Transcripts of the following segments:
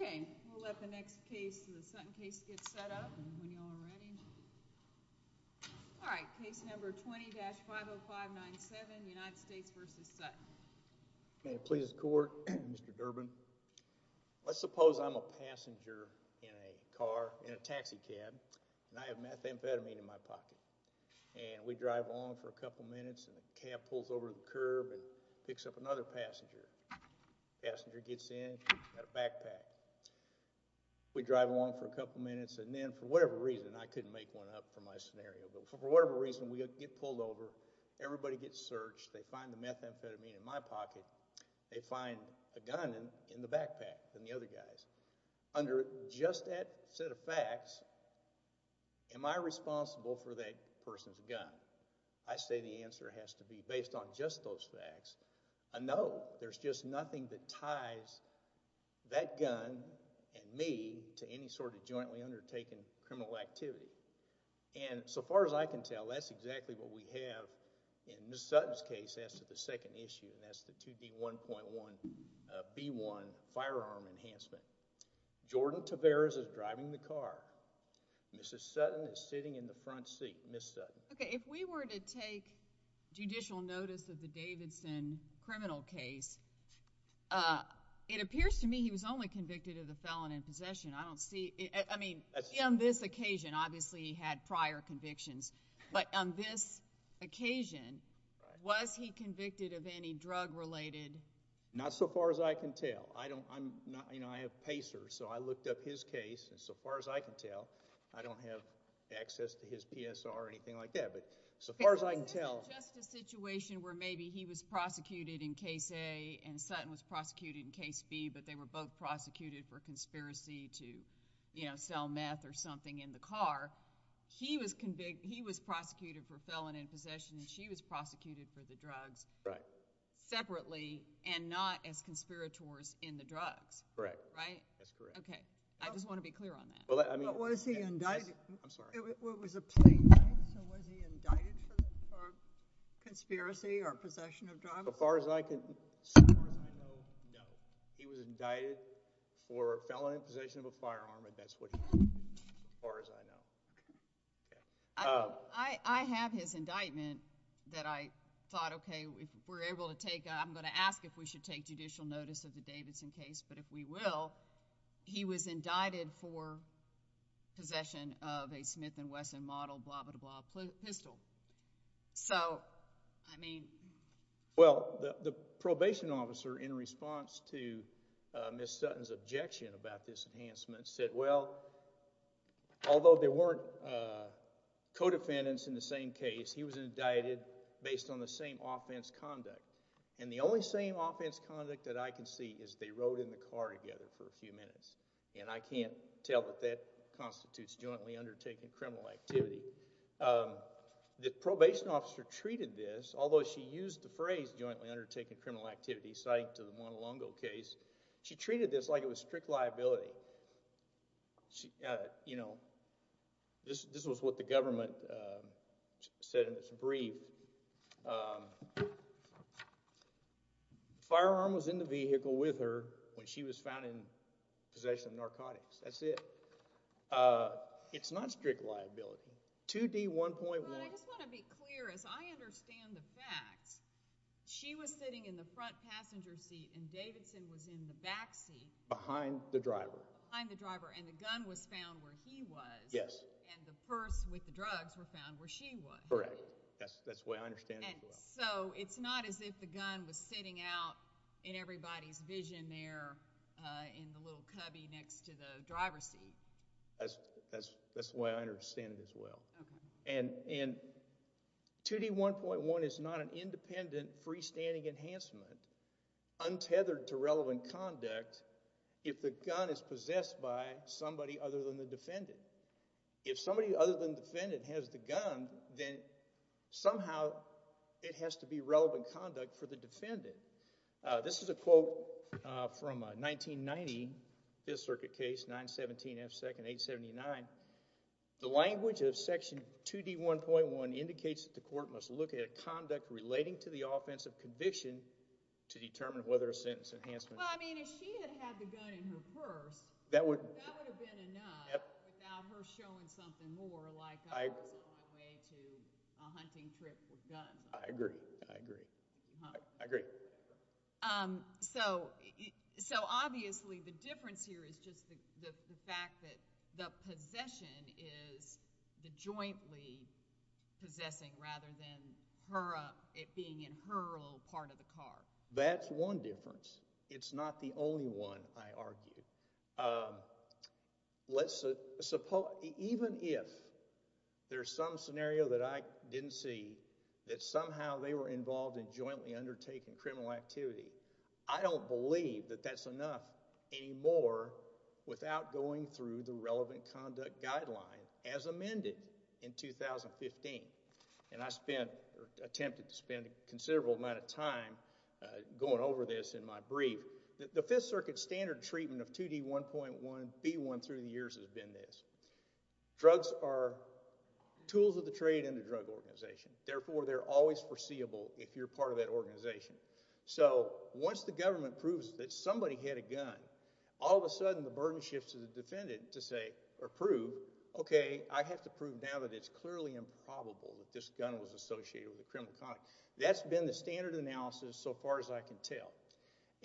Okay, we'll let the next case, the Sutton case, get set up. All right, case number 20-50597, United States v. Sutton. May it please the court, Mr. Durbin. Let's suppose I'm a passenger in a car, in a taxi cab, and I have methamphetamine in my pocket. And we drive along for a couple of minutes, and the cab pulls over to the curb and picks up another passenger. The passenger gets in, got a backpack. We drive along for a couple of minutes, and then, for whatever reason, I couldn't make one up for my scenario, but for whatever reason, we get pulled over, everybody gets searched, they find the methamphetamine in my pocket, they find a gun in the backpack from the other guys. Under just that set of facts, am I responsible for that person's gun? I say the answer has to be, based on just those facts, a no. There's just nothing that ties that gun and me to any sort of jointly undertaken criminal activity. And so far as I can tell, that's exactly what we have in Ms. Sutton's case as to the second issue, and that's the 2B1.1B1 firearm enhancement. Jordan Taveras is driving the car. Mr. Sutton is sitting in the front seat. Ms. Sutton. Okay, if we were to take judicial notice of the Davidson criminal case, it appears to me he was only convicted of the felon in possession. I don't see, I mean, on this occasion, obviously he had prior convictions, but on this occasion, was he convicted of any drug-related... Not so far as I can tell. I don't, I'm not, you know, I have PACER, so I looked up his case, and so far as I can tell, I don't have access to his PSR or anything like that, but so far as I can tell... It's just a situation where maybe he was prosecuted in Case A and Sutton was prosecuted in Case B, but they were both prosecuted for conspiracy to, you know, sell meth or something in the car. He was convicted, he was prosecuted for felon in possession, and she was prosecuted for the drugs... Right.... separately, and not as conspirators in the drugs. Correct. Right? That's correct. Okay, I just want to be clear on that. Well, I mean... But was he indicted... I'm sorry. Well, it was a plea, right? So was he indicted for conspiracy or possession of drugs? As far as I can tell, no. He was indicted for felon in possession of a firearm, and that's what he did, as far as I know. I have his indictment that I thought, okay, if we're able to take, I'm going to ask if we should take judicial notice of the Davidson case, but if we will, he was indicted for possession of a Smith & Wesson model blah-blah-blah pistol. So, I mean... Well, the probation officer, in response to Ms. Sutton's objection about this enhancement, said, well, although there weren't co-defendants in the same case, he was indicted based on the same offense conduct, and the only same offense conduct that I can see is they rode in the car together for a few minutes, and I can't tell that that constitutes jointly undertaking criminal activity. The probation officer treated this, although she used the phrase jointly undertaking criminal activity, citing to the Montelongo case, she treated this like it was strict liability. You know, this was what the government said in its brief. The firearm was in the vehicle with her when she was found in possession of narcotics. That's it. It's not strict liability. 2D1.1... I just want to be clear. As I understand the facts, she was sitting in the front passenger seat and Davidson was in the back seat... Behind the driver.... behind the driver, and the gun was found where he was... Yes.... and the purse with the drugs were found where she was. Correct. That's the way I understand it. And so, it's not as if the gun was sitting out in everybody's vision there in the little driver's seat. That's the way I understand it as well. And 2D1.1 is not an independent freestanding enhancement untethered to relevant conduct if the gun is possessed by somebody other than the defendant. If somebody other than the defendant has the gun, then somehow it has to be relevant conduct for the defendant. This is a quote from a 1990 Fifth Circuit case, 917 F. 2nd, 879. The language of Section 2D1.1 indicates that the court must look at conduct relating to the offense of conviction to determine whether a sentence enhancement... Well, I mean, if she had had the gun in her purse... That would...... that would have been enough... Yep.... without her showing something more like... I agree.... a hunting trip with guns. I agree. I agree. I agree. So, obviously the difference here is just the fact that the possession is the jointly possessing rather than her being in her little part of the car. That's one difference. It's not the only one, I argue. Let's... even if there's some scenario that I didn't see that somehow they were involved in jointly undertaking criminal activity, I don't believe that that's enough anymore without going through the relevant conduct guideline as amended in 2015. And I spent... attempted to spend a considerable amount of time going over this in my brief. The Fifth Circuit standard treatment of 2D1.1B1 through the years has been this. Drugs are tools of the trade in the drug organization. Therefore, they're always foreseeable if you're part of that organization. So, once the government proves that somebody had a gun, all of a sudden the burden shifts to the defendant to say or prove, okay, I have to prove now that it's clearly improbable that this gun was associated with a criminal conduct. That's been the standard analysis so far as I can tell.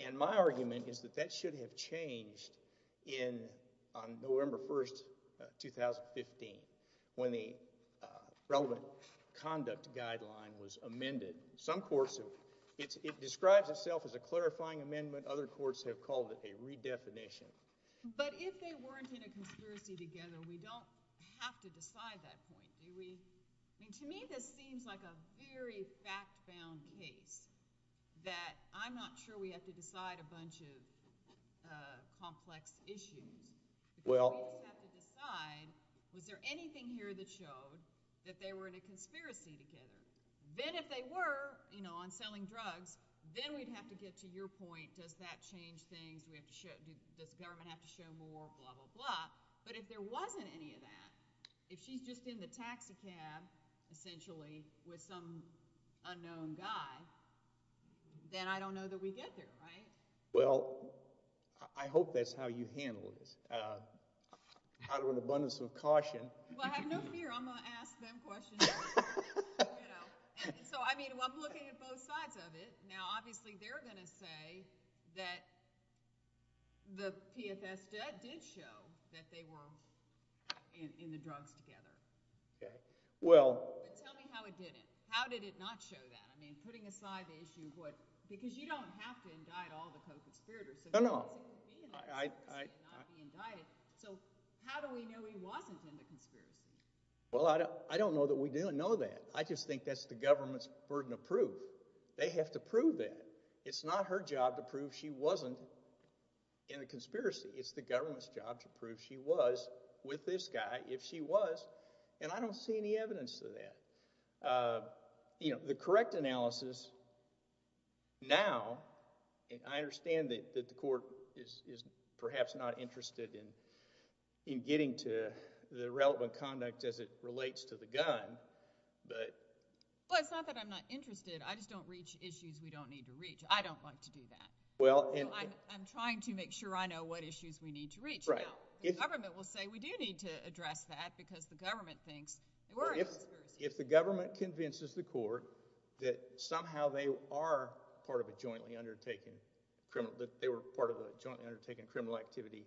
And my argument is that that shouldn't have changed on November 1, 2015 when the relevant conduct guideline was amended. Some courts have... it describes itself as a clarifying amendment. Other courts have called it a redefinition. But if they weren't in a conspiracy together, we don't have to decide that. To me, this seems like a very fact-bound case that I'm not sure we have to decide a bunch of complex issues. We don't have to decide, is there anything here that shows that they were in a conspiracy together? Then if they were, you know, on selling drugs, then we'd have to get to your point. Does that change things? Does the government have to show more? Blah, blah, blah. But if there wasn't any of that, if she's just in the taxicab, essentially, with some unknown guy, then I don't know that we'd get there, right? Well, I hope that's how you handle this. Out of an abundance of caution. Well, I have no fear. I'm going to ask them questions. So, I mean, I'm looking at both sides of it. Now, obviously, they're going to say that the PFS debt did show that they were in the drugs together. Tell me how it didn't. How did it not show that? I mean, putting aside the issue of what – because you don't have to indict all the post-conspirators. No, no. So, how do we know he wasn't in the conspiracy? Well, I don't know that we do know that. I just think that's the government's burden of proof. They have to prove that. It's not her job to prove she wasn't in a conspiracy. It's the government's job to prove she was with this guy, if she was. And I don't see any evidence of that. The correct analysis now – and I understand that the court is perhaps not interested in getting to the relevant conduct as it relates to the gun. Well, it's not that I'm not interested. I just don't reach issues we don't need to reach. I don't want to do that. Well – I'm trying to make sure I know what issues we need to reach. Right. Now, the government will say we do need to address that because the government thinks we're – If the government convinces the court that somehow they are part of a jointly undertaken criminal – that they were part of a jointly undertaken criminal activity,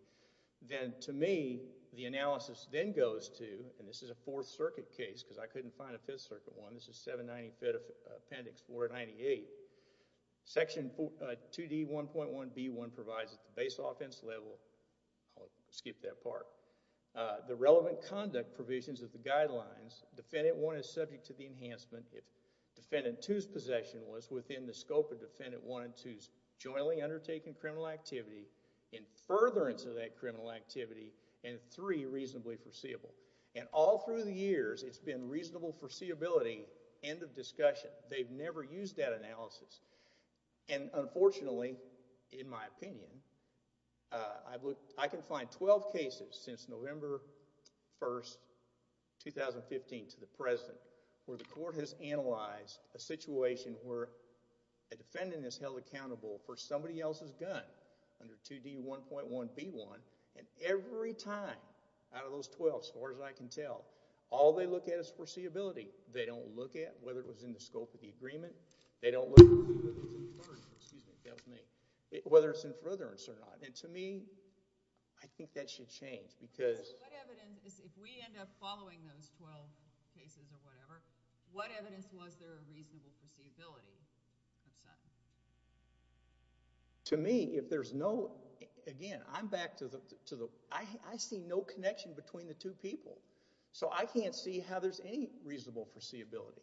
then to me, the analysis then goes to – because I couldn't find a Fifth Circuit one. This is 795 Appendix 498. Section 2D1.1b1 provides the base offense level – I'll skip that part. The relevant conduct provisions of the guidelines, defendant one is subject to the enhancement if defendant two's possession was within the scope of defendant one and two's jointly undertaken criminal activity, in furtherance of that criminal activity, and three, reasonably foreseeable. And all through the years, it's been reasonable foreseeability, end of discussion. They've never used that analysis. And unfortunately, in my opinion, I can find 12 cases since November 1, 2015 to the present where the court has analyzed a situation where a defendant is held accountable for somebody else's gun under 2D1.1b1, and every time out of those 12, as far as I can tell, all they look at is foreseeability. They don't look at whether it was in the scope of the agreement. They don't look – whether it's in furtherance or not. And to me, I think that should change because – What evidence – if we end up following those 12 cases or whatever, what evidence was there of reasonable foreseeability? To me, if there's no – again, I'm back to the – I see no connection between the two people. So I can't see how there's any reasonable foreseeability.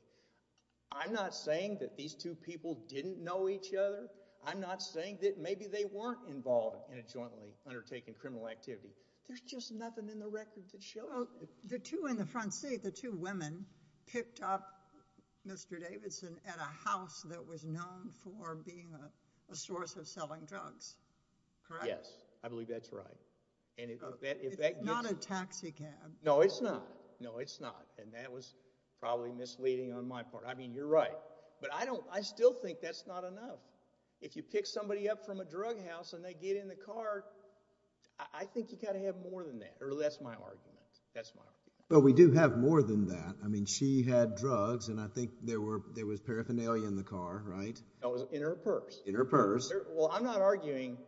I'm not saying that these two people didn't know each other. I'm not saying that maybe they weren't involved in a jointly undertaken criminal activity. There's just nothing in the record that shows it. The two in the front seat, the two women, picked up Mr. Davidson at a house that was known for being a source of selling drugs. Correct? Yes. I believe that's right. It's not a taxi cab. No, it's not. No, it's not. And that was probably misleading on my part. I mean, you're right, but I still think that's not enough. If you pick somebody up from a drug house and they get in the car, I think you've got to have more than that. That's my argument. That's my argument. Well, we do have more than that. I mean, she had drugs, and I think there was paraphernalia in the car, right? That was in her purse. In her purse. Well, I'm not arguing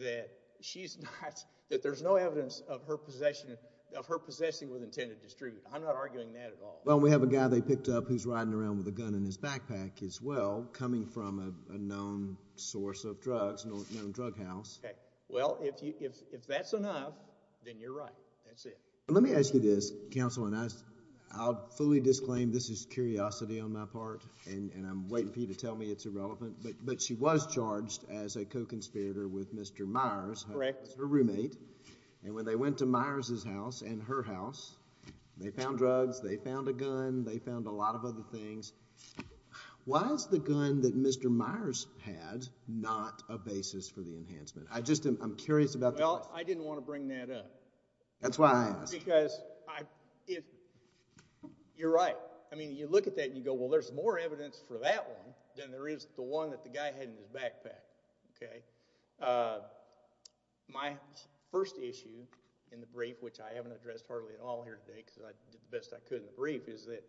that she's not – that there's no evidence of her possessing what was intended to distribute. I'm not arguing that at all. Well, we have a guy they picked up who's riding around with a gun in his backpack as well, coming from a known source of drugs, known drug house. Okay. Well, if that's enough, then you're right. That's it. Let me ask you this, Counsel, and I'll fully disclaim this is curiosity on my part, and I'm waiting for you to tell me it's irrelevant, but she was charged as a co-conspirator with Mr. Myers, her roommate. And when they went to Myers' house and her house, they found drugs, they found a gun, they found a lot of other things. Why is the gun that Mr. Myers had not a basis for the enhancement? I just am curious about that. Well, I didn't want to bring that up. That's why I asked. Because you're right. I mean, you look at that and you go, well, there's more evidence for that one than there is the one that the guy had in his backpack. Okay. My first issue in the brief, which I haven't addressed partly at all here today because I did the best I could in the brief, is that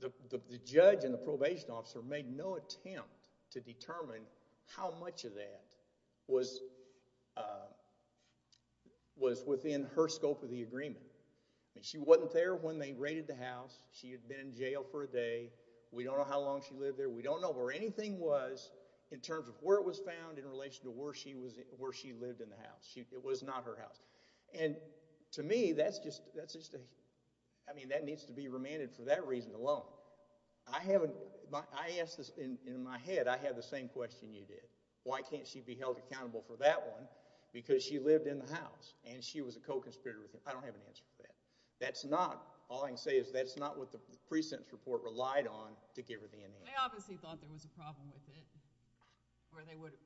the judge and the probation officer made no attempt to determine how much of that was within her scope of the agreement. She wasn't there when they raided the house. She had been in jail for a day. We don't know how long she lived there. We don't know where anything was in terms of where it was found in relation to where she lived in the house. It was not her house. And to me, that needs to be remanded for that reason alone. I asked this in my head. I had the same question you did. Why can't she be held accountable for that one? Because she lived in the house and she was a co-conspirator. I don't have an answer for that. That's not – all I can say is that's not what the precinct's report relied on, to give her the immunity. They obviously thought there was a problem with it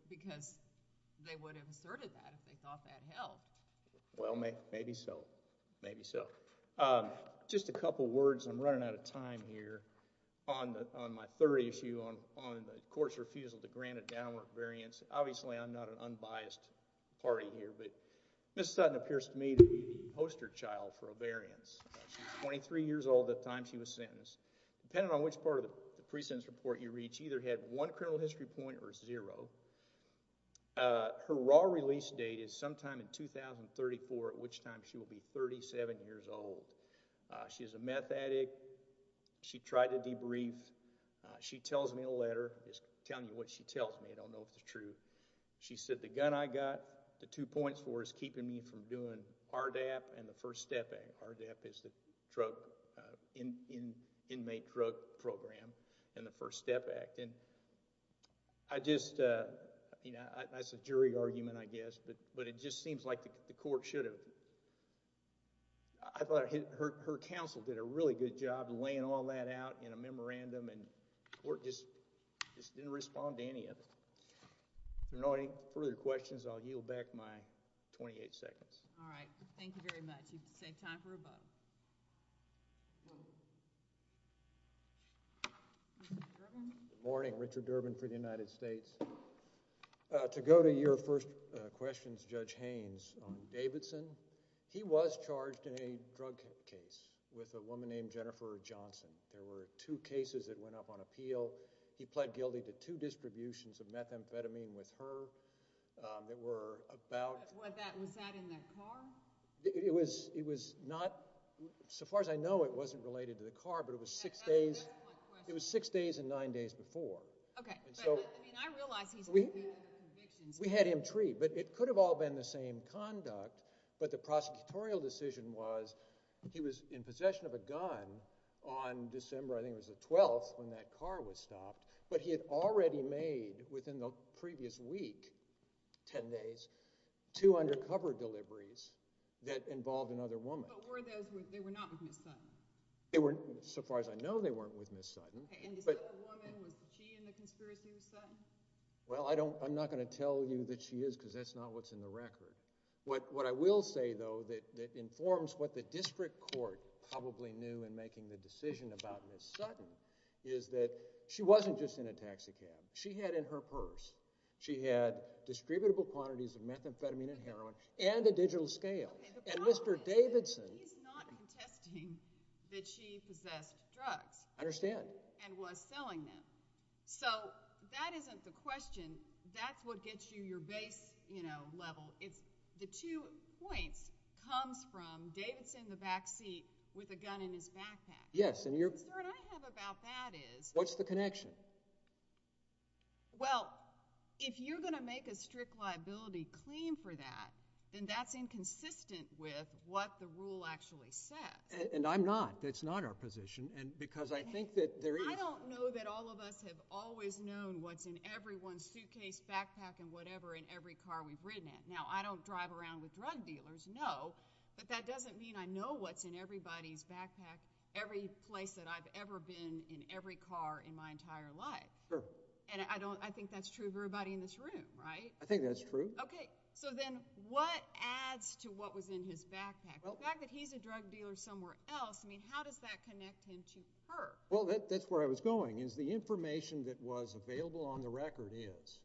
because they would have asserted that if they thought that held. Well, maybe so. Maybe so. Just a couple words. I'm running out of time here on my third issue on the court's refusal to grant a downward variance. Obviously, I'm not an unbiased party here, but Ms. Sutton appears to me to be the poster child for a variance. She was 23 years old at the time she was sentenced. Depending on which part of the precinct's report you read, she either had one criminal history point or zero. Her raw release date is sometime in 2034, at which time she will be 37 years old. She is a meth addict. She tells me a letter. I'm just telling you what she tells me. I don't know if it's true. She said the gun I got, the two points for is keeping me from doing RDAP and the First Step Act. RDAP is the Drug – Inmate Drug Program and the First Step Act. I just – that's a jury argument, I guess, but it just seems like the court should have – I thought her counsel did a really good job laying all that out in a memorandum. The court just didn't respond to any of it. If there are no further questions, I'll yield back my 28 seconds. All right. Thank you very much. We have the same time for a vote. Richard Durbin. Good morning. Richard Durbin for the United States. To go to your first question, Judge Haynes, on Davidson, he was charged in a drug case with a woman named Jennifer Johnson. There were two cases that went up on appeal. He pled guilty to two distributions of methamphetamine with her. They were about – Was that in the car? It was not – so far as I know, it wasn't related to the car, but it was six days – I have one more question. It was six days and nine days before. Okay. But, I mean, I realize he's – We had him treated, but it could have all been the same conduct, but the prosecutorial decision was he was in possession of a gun on December, I think it was the 12th, when that car was stopped, but he had already made, within the previous week, ten days, two undercover deliveries that involved another woman. But were those – they were not with Ms. Sutton? They were – so far as I know, they weren't with Ms. Sutton. Okay. And this other woman, was she in the conspiracy with Sutton? Well, I don't – I'm not going to tell you that she is because that's not what's in the record. What I will say, though, that informs what the district court probably knew in making the decision about Ms. Sutton is that she wasn't just in a taxicab. She had in her purse, she had distributable quantities of methamphetamine and heroin and a digital scale. And Mr. Davidson – He's not attesting that she possessed drugs. I understand. And was selling them. So that isn't the question. That's what gets you your base, you know, level. It's – the two points comes from Davidson in the back seat with a gun in his backpack. Yes, and you're – Because what I have about that is – What's the connection? Well, if you're going to make a strict liability claim for that, then that's inconsistent with what the rule actually says. And I'm not. That's not our position because I think that there is – I don't know that all of us have always known what's in everyone's suitcase, backpack, and whatever in every car we've ridden in. Now, I don't drive around with drug dealers, no, but that doesn't mean I know what's in everybody's backpack, every place that I've ever been in every car in my entire life. Sure. And I don't – I think that's true of everybody in this room, right? I think that's true. Okay. So then what adds to what was in his backpack? The fact that he's a drug dealer somewhere else, I mean, how does that connect him to her? Well, that's where I was going is the information that was available on the record is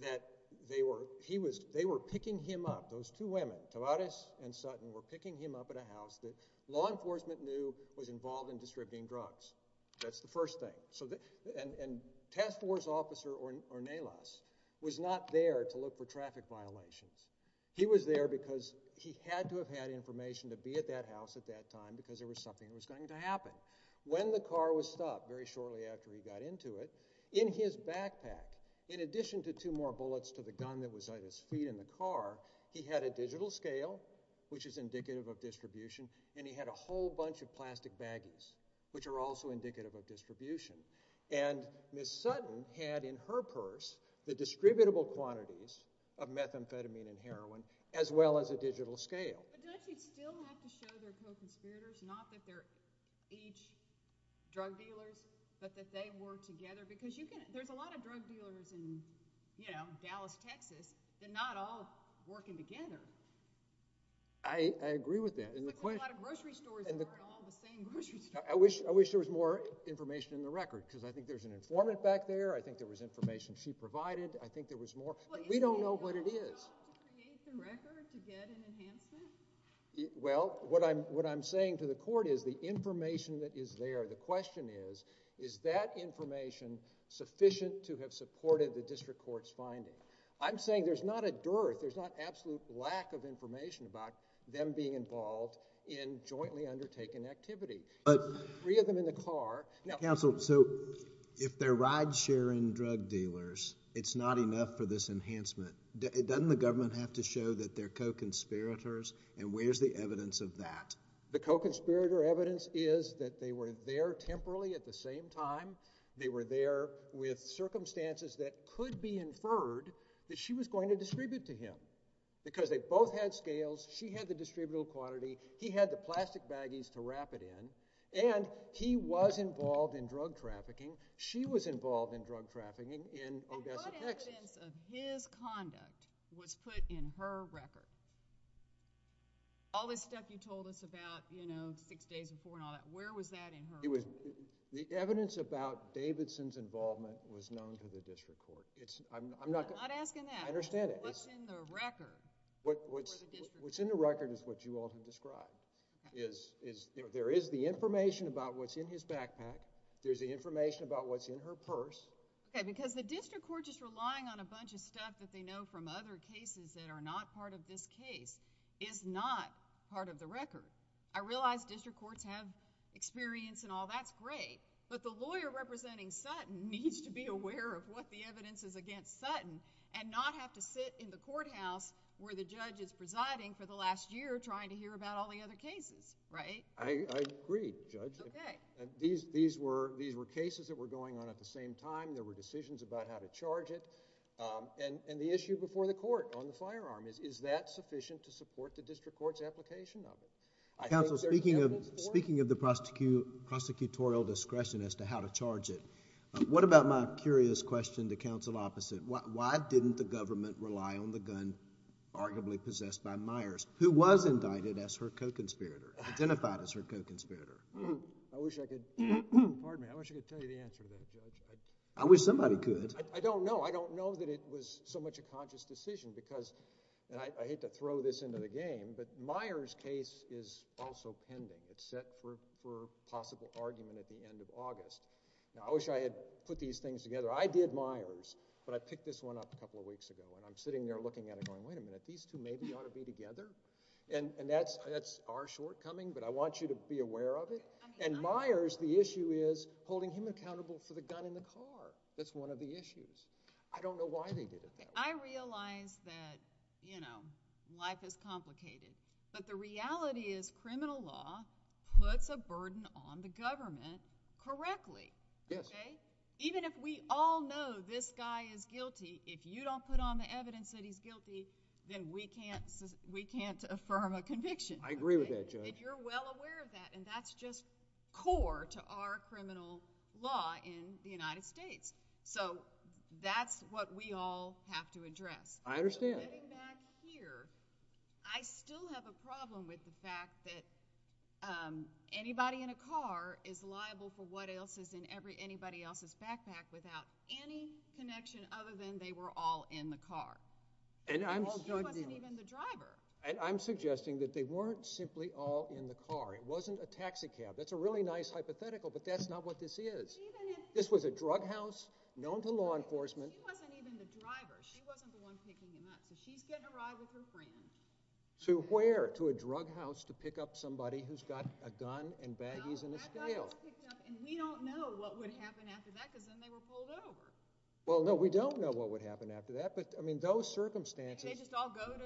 that they were – he was – they were picking him up. Those two women, Tavarez and Sutton, were picking him up at a house that law enforcement knew was involved in distributing drugs. That's the first thing. And Task Force Officer Ornelas was not there to look for traffic violations. He was there because he had to have had information to be at that house at that time because there was something that was going to happen. When the car was stopped, very shortly after he got into it, in his backpack, in addition to two more bullets to the gun that was under his feet in the car, he had a digital scale, which is indicative of distribution, and he had a whole bunch of plastic baggies, which are also indicative of distribution. And Ms. Sutton had in her purse the distributable quantities of methamphetamine and heroin as well as a digital scale. But does it still have to show that they're co-conspirators, not that they're each drug dealers, but that they work together? Because you can – there's a lot of drug dealers in, you know, Dallas, Texas. They're not all working together. I agree with that. There's a lot of grocery stores that aren't all the same grocery stores. I wish there was more information in the record because I think there's an informant back there. I think there was information she provided. I think there was more. We don't know what it is. Well, what I'm saying to the court is the information that is there, the question is, is that information sufficient to have supported the district court's finding? I'm saying there's not a dearth, there's not absolute lack of information about them being involved in jointly undertaken activity. Three of them in the car. Counsel, so if they're ride-sharing drug dealers, it's not enough for this enhancement. Doesn't the government have to show that they're co-conspirators, and where's the evidence of that? The co-conspirator evidence is that they were there temporarily at the same time. They were there with circumstances that could be inferred that she was going to distribute to him because they both had scales. She had the distributable quantity. He had the plastic baggies to wrap it in, and he was involved in drug trafficking. She was involved in drug trafficking in Odessa, Texas. The evidence of his conduct was put in her record. All this stuff you told us about six days before and all that, where was that in her record? The evidence about Davidson's involvement was known to the district court. I'm not asking that. I understand it. What's in the record for the district court? What's in the record is what you often describe. There is the information about what's in his backpack. There's the information about what's in her purse. Okay, because the district court just relying on a bunch of stuff that they know from other cases that are not part of this case is not part of the record. I realize district courts have experience and all. That's great, but the lawyer representing Sutton needs to be aware of what the evidence is against Sutton and not have to sit in the courthouse where the judge is presiding for the last year trying to hear about all the other cases, right? I agree, Judge. These were cases that were going on at the same time. There were decisions about how to charge it. The issue before the court on the firearm, is that sufficient to support the district court's application of it? Counsel, speaking of the prosecutorial discretion as to how to charge it, what about my curious question to counsel opposite? Who was indicted as her co-conspirator, identified as her co-conspirator? I wish I could... Pardon me. I wish I could tell you the answer to that. I wish somebody could. I don't know. I don't know that it was so much a conscious decision because... I hate to throw this into the game, but Myers' case is also pending. It's set for possible argument at the end of August. Now, I wish I had put these things together. I did Myers, but I picked this one up a couple of weeks ago. I'm sitting there looking at it going, wait a minute, these two maybe ought to be together. That's our shortcoming, but I want you to be aware of it. Myers, the issue is holding him accountable for the gun in the car. That's one of the issues. I don't know why they did it. I realize that life is complicated, but the reality is criminal law puts a burden on the government correctly. Yes. Even if we all know this guy is guilty, if you don't put on the evidence that he's guilty, then we can't affirm a conviction. I agree with that, Judge. You're well aware of that, and that's just core to our criminal law in the United States. That's what we all have to address. I understand. Getting back here, I still have a problem with the fact that anybody in a car is liable for what else is in anybody else's backpack without any connection other than they were all in the car. She wasn't even the driver. I'm suggesting that they weren't simply all in the car. It wasn't a taxi cab. That's a really nice hypothetical, but that's not what this is. This was a drug house known to law enforcement. She wasn't even the driver. She wasn't the one picking him up because she's getting a ride with her friend. To where? We don't know what would happen after that because then they were pulled over. Well, no, we don't know what would happen after that. But, I mean, those circumstances— They just all go to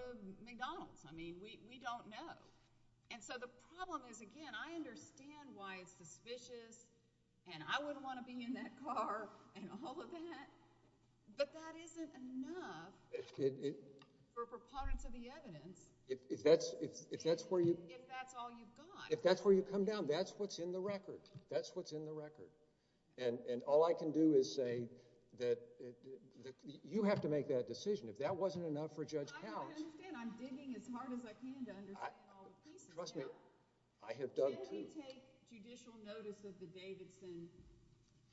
McDonald's. I mean, we don't know. And so the problem is, again, I understand why it's suspicious, and I wouldn't want to be in that car and all of that, but that isn't enough for proponents of the evidence. If that's where you— If that's all you've got. If that's where you come down, that's what's in the record. That's what's in the record. And all I can do is say that you have to make that decision. If that wasn't enough for Judge Cowles— I understand. I'm digging as hard as I can to understand all the pieces. Trust me, I have dug deep. Should we take judicial notice of the Davidson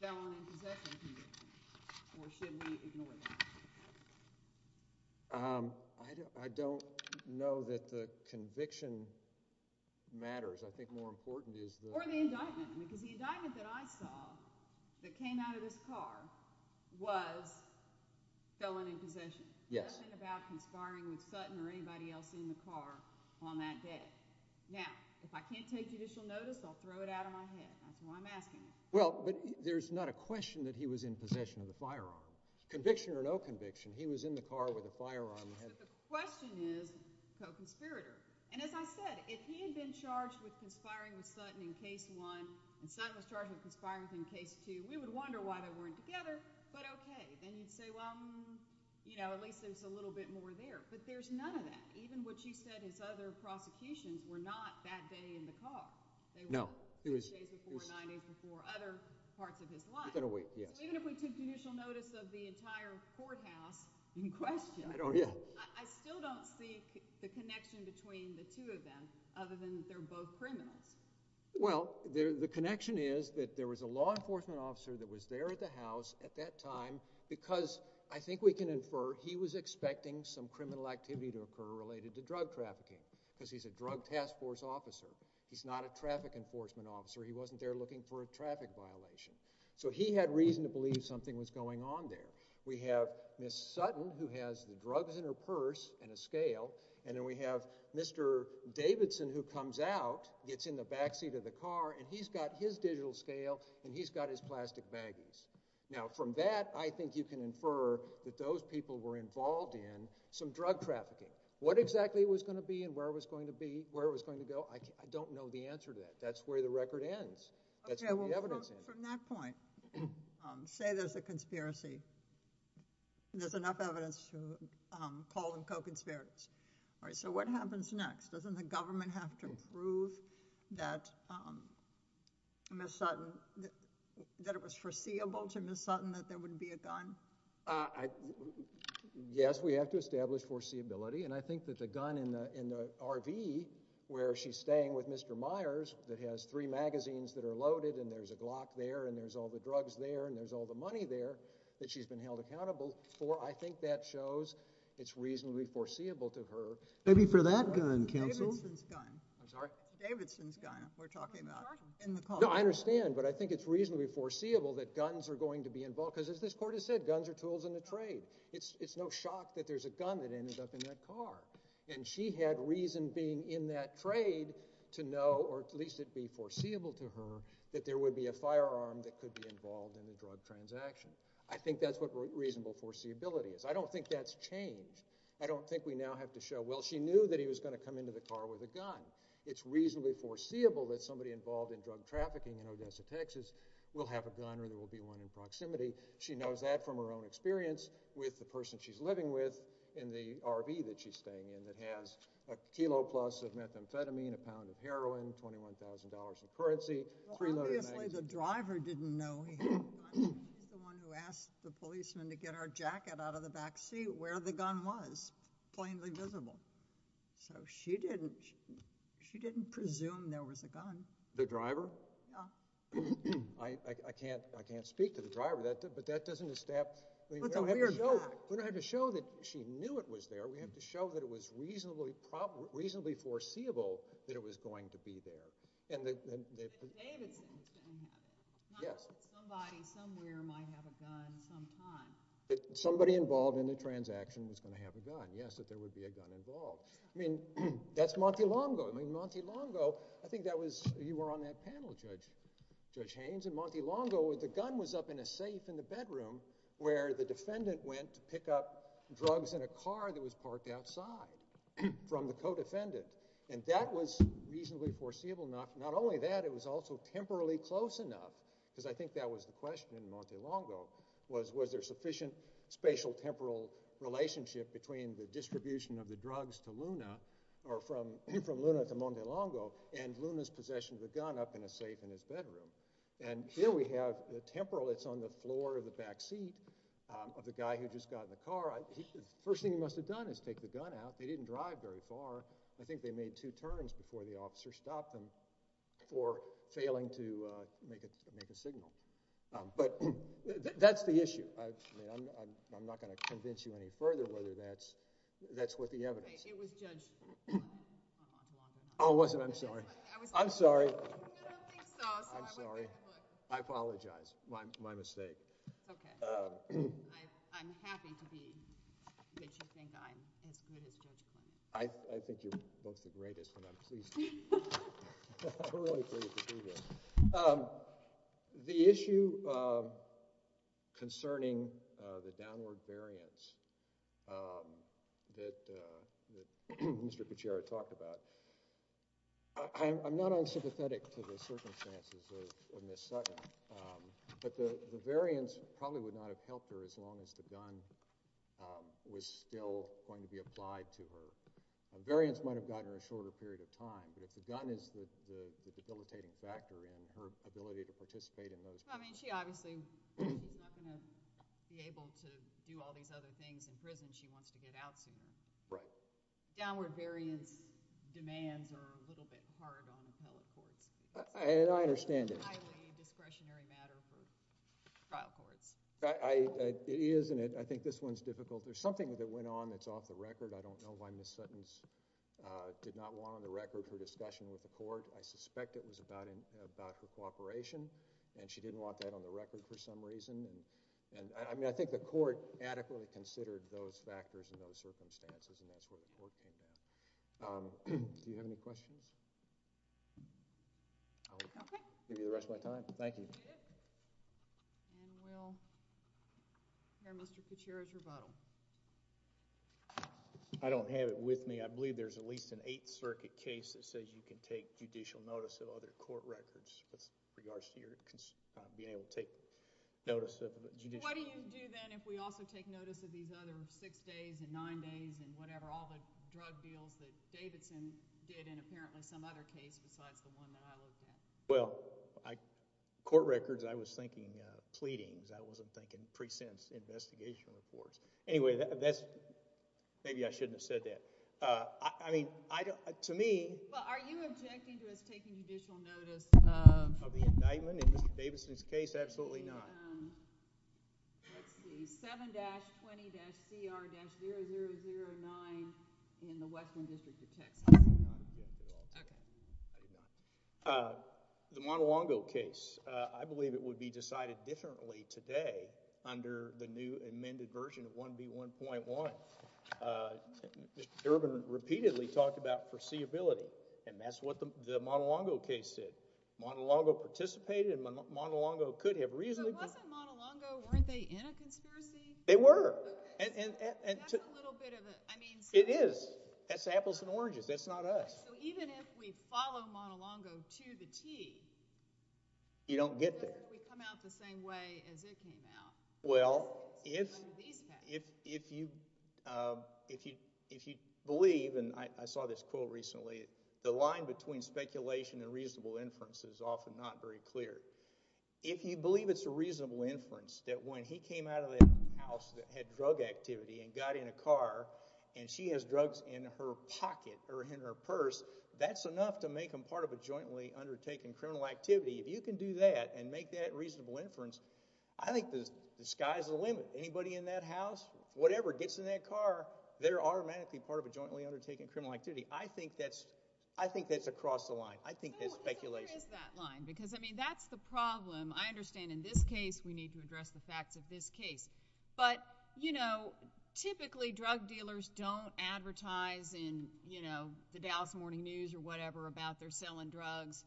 felony possession conviction, or should we ignore it? I don't know that the conviction matters. I think more important is the— Or the indictment. Because the indictment that I saw that came out of this car was felon in possession. Yes. Nothing about conspiring with Sutton or anybody else in the car on that day. Now, if I can't take judicial notice, I'll throw it out of my head. That's why I'm asking. Well, but there's not a question that he was in possession of the firearm. Conviction or no conviction, he was in the car with a firearm. But the question is co-conspirator. And as I said, if he had been charged with conspiring with Sutton in Case 1 and Sutton was charged with conspiring with him in Case 2, we would wonder why they weren't together. But okay, then you'd say, well, at least there's a little bit more there. But there's none of that. Even what you said, his other prosecutions were not that day in the car. No. They were the day before or the night before or other parts of his life. We've got to wait, yes. Even if we took judicial notice of the entire courthouse in question, I still don't see the connection between the two of them other than that they're both criminals. Well, the connection is that there was a law enforcement officer that was there at the house at that time because I think we can infer he was expecting some criminal activity to occur related to drug trafficking because he's a drug task force officer. He's not a traffic enforcement officer. He wasn't there looking for a traffic violation. So he had reason to believe something was going on there. We have Ms. Sutton who has the drugs in her purse and a scale, and then we have Mr. Davidson who comes out, gets in the backseat of the car, and he's got his digital scale and he's got his plastic baggies. Now, from that, I think you can infer that those people were involved in some drug trafficking. What exactly it was going to be and where it was going to be, where it was going to go, I don't know the answer to that. That's where the record ends. That's where the evidence ends. So from that point, say there's a conspiracy. There's enough evidence to call them co-conspirators. So what happens next? Doesn't the government have to prove that Ms. Sutton, that it was foreseeable to Ms. Sutton that there wouldn't be a gun? Yes, we have to establish foreseeability, and I think that the gun in the RV where she's staying with Mr. Myers that has three magazines that are loaded and there's a block there and there's all the drugs there and there's all the money there that she's been held accountable for, I think that shows it's reasonably foreseeable to her. Maybe for that gun, counsel. Davidson's gun. I'm sorry? Davidson's gun we're talking about in the car. No, I understand, but I think it's reasonably foreseeable that guns are going to be involved because, as this Court has said, guns are tools in the trade. It's no shock that there's a gun that ended up in that car, and she had reason being in that trade to know, or at least it would be foreseeable to her, that there would be a firearm that could be involved in a drug transaction. I think that's what reasonable foreseeability is. I don't think that's changed. I don't think we now have to show, well, she knew that he was going to come into the car with a gun. It's reasonably foreseeable that somebody involved in drug trafficking in Odessa, Texas, will have a gun or there will be one in proximity. She knows that from her own experience with the person she's living with in the RV that she's staying in that has a kilo plus of methamphetamine, a pound of heroin, $21,000 in currency, preloaded magazines. Well, obviously the driver didn't know he had a gun. He's the one who asked the policeman to get her jacket out of the backseat where the gun was, plainly visible. So she didn't presume there was a gun. The driver? Yeah. I can't speak to the driver, but that doesn't establish— We don't have to show that she knew it was there. We have to show that it was reasonably foreseeable that it was going to be there. And the— David's interesting. Yes. Somebody somewhere might have a gun sometime. Somebody involved in the transaction was going to have a gun. Yes, that there would be a gun involved. I mean, that's Montelongo. I mean, Montelongo, I think that was—you were on that panel, Judge Haynes. In Montelongo, the gun was up in a safe in the bedroom where the defendant went to pick up drugs in a car that was parked outside from the co-defendant. And that was reasonably foreseeable. Not only that, it was also temporally close enough, because I think that was the question in Montelongo, was there sufficient spatial-temporal relationship between the distribution of the drugs to Luna, or from Luna to Montelongo, and Luna's possession of the gun up in a safe in his bedroom. And here we have the temporal that's on the floor of the backseat of the guy who just got in the car. The first thing he must have done is take the gun out. They didn't drive very far. I think they made two turns before the officer stopped them for failing to make a signal. But that's the issue. I'm not going to convince you any further whether that's what the evidence— It was Judd's fault. Oh, was it? I'm sorry. I'm sorry. I don't think so. I'm sorry. I apologize. My mistake. Okay. I'm happy to be what you think I am. I think you're both the greatest, and I'm pleased to be here. I'm really pleased to be here. The issue concerning the downward variance that Mr. Pichero talked about, I'm not unsympathetic to the circumstances of Ms. Sutton, but the variance probably would not have helped her as long as the gun was still going to be applied to her. The variance might have gotten her a shorter period of time, but if the gun is the debilitating factor and her ability to participate in those— I mean, she obviously is not going to be able to do all these other things in prison. She wants to get out soon. Right. The downward variance demands are a little bit hard on the trial courts. I understand it. It's a highly discretionary matter for the trial courts. It is, and I think this one's difficult. There's something that went on that's off the record. I don't know why Ms. Sutton did not want on the record her discussion with the court. I suspect it was about the cooperation, and she didn't want that on the record for some reason. I mean, I think the court adequately considered those factors and those circumstances, and that's where the court came in. Do you have any questions? Okay. I'll give you the rest of my time. Thank you. Okay. We will hear Mr. Katira to vote. I don't have it with me. I believe there's at least an Eighth Circuit case that says you can take judicial notice of other court records with regards to your being able to take notice of the judicial— What do you do then if we also take notice of these other six days and nine days and whatever, all the drug deals that Davidson did in apparently some other case besides the one that I was in? Well, court records, I was thinking pleadings. I wasn't thinking pre-sentence investigation reports. Anyway, maybe I shouldn't have said that. I mean, to me— But are you objecting to us taking judicial notice— of the indictment in Mr. Davidson's case? Absolutely not. That's the 7-20-CR-0009 in the Westland District of Texas. The Montelongo case. I believe it would be decided differently today under the new amended version of 1B1.1. Mr. Durbin repeatedly talked about foreseeability, and that's what the Montelongo case did. Montelongo participated, and Montelongo could have reasonably— So if it wasn't Montelongo, weren't they in a conspiracy? They were. That's a little bit of a— It is. That's apples and oranges. That's not us. So even if we follow Montelongo to the T— You don't get there. We come out the same way as it came out. Well, if you believe, and I saw this quote recently, the line between speculation and reasonable inference is often not very clear. If you believe it's a reasonable inference that when he came out of that house that had drug activity and got in a car and she has drugs in her pocket or in her purse, that's enough to make them part of a jointly undertaken criminal activity. If you can do that and make that reasonable inference, I think the sky's the limit. Anybody in that house, whatever, gets in that car, they're automatically part of a jointly undertaken criminal activity. I think that's across the line. I think there's speculation. I don't think there is that line because, I mean, that's the problem. I understand in this case we need to address the facts of this case, but typically drug dealers don't advertise in the Dallas Morning News or whatever about they're selling drugs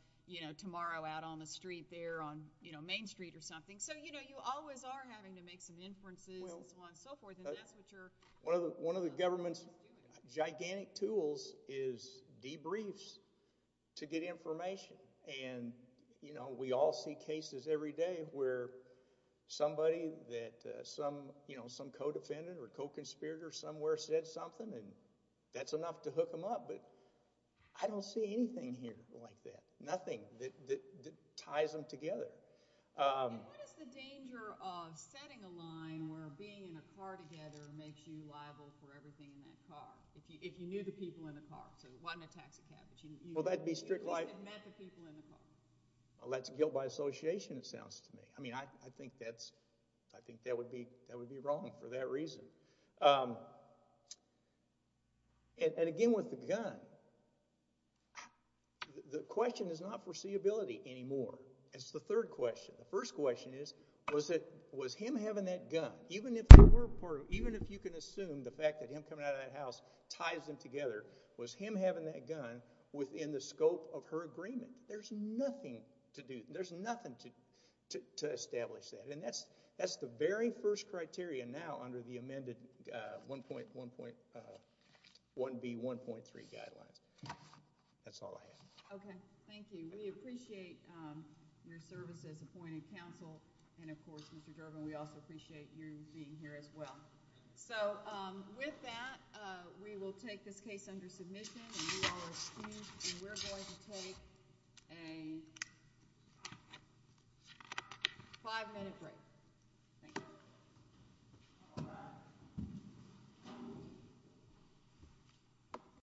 tomorrow out on the street there, on Main Street or something. So you always are having to make some inferences and so on and so forth. One of the government's gigantic tools is debriefs to get information. We all see cases every day where somebody that some co-defendant or co-conspirator somewhere said something and that's enough to hook them up, but I don't see anything here like that, nothing that ties them together. What is the danger of setting a line where being in a car together makes you liable for everything in that car, if you knew the people in the car, so it wasn't a tax advantage? Well, that's guilt by association it sounds to me. I mean, I think that would be wrong for that reason. And again with the gun, the question is not foreseeability anymore. It's the third question. The first question is, was him having that gun, even if you can assume the fact that him coming out of that house ties them together, was him having that gun within the scope of her agreement? There's nothing to do, there's nothing to establish that, and that's the very first criteria now under the amended 1B.1.3 guidelines. That's all I have. Okay, thank you. We appreciate your service as appointed counsel, and of course, Mr. Durbin, we also appreciate you being here as well. So with that, we will take this case under submission, and you are excused, and we're going to take a five-minute break. Thank you.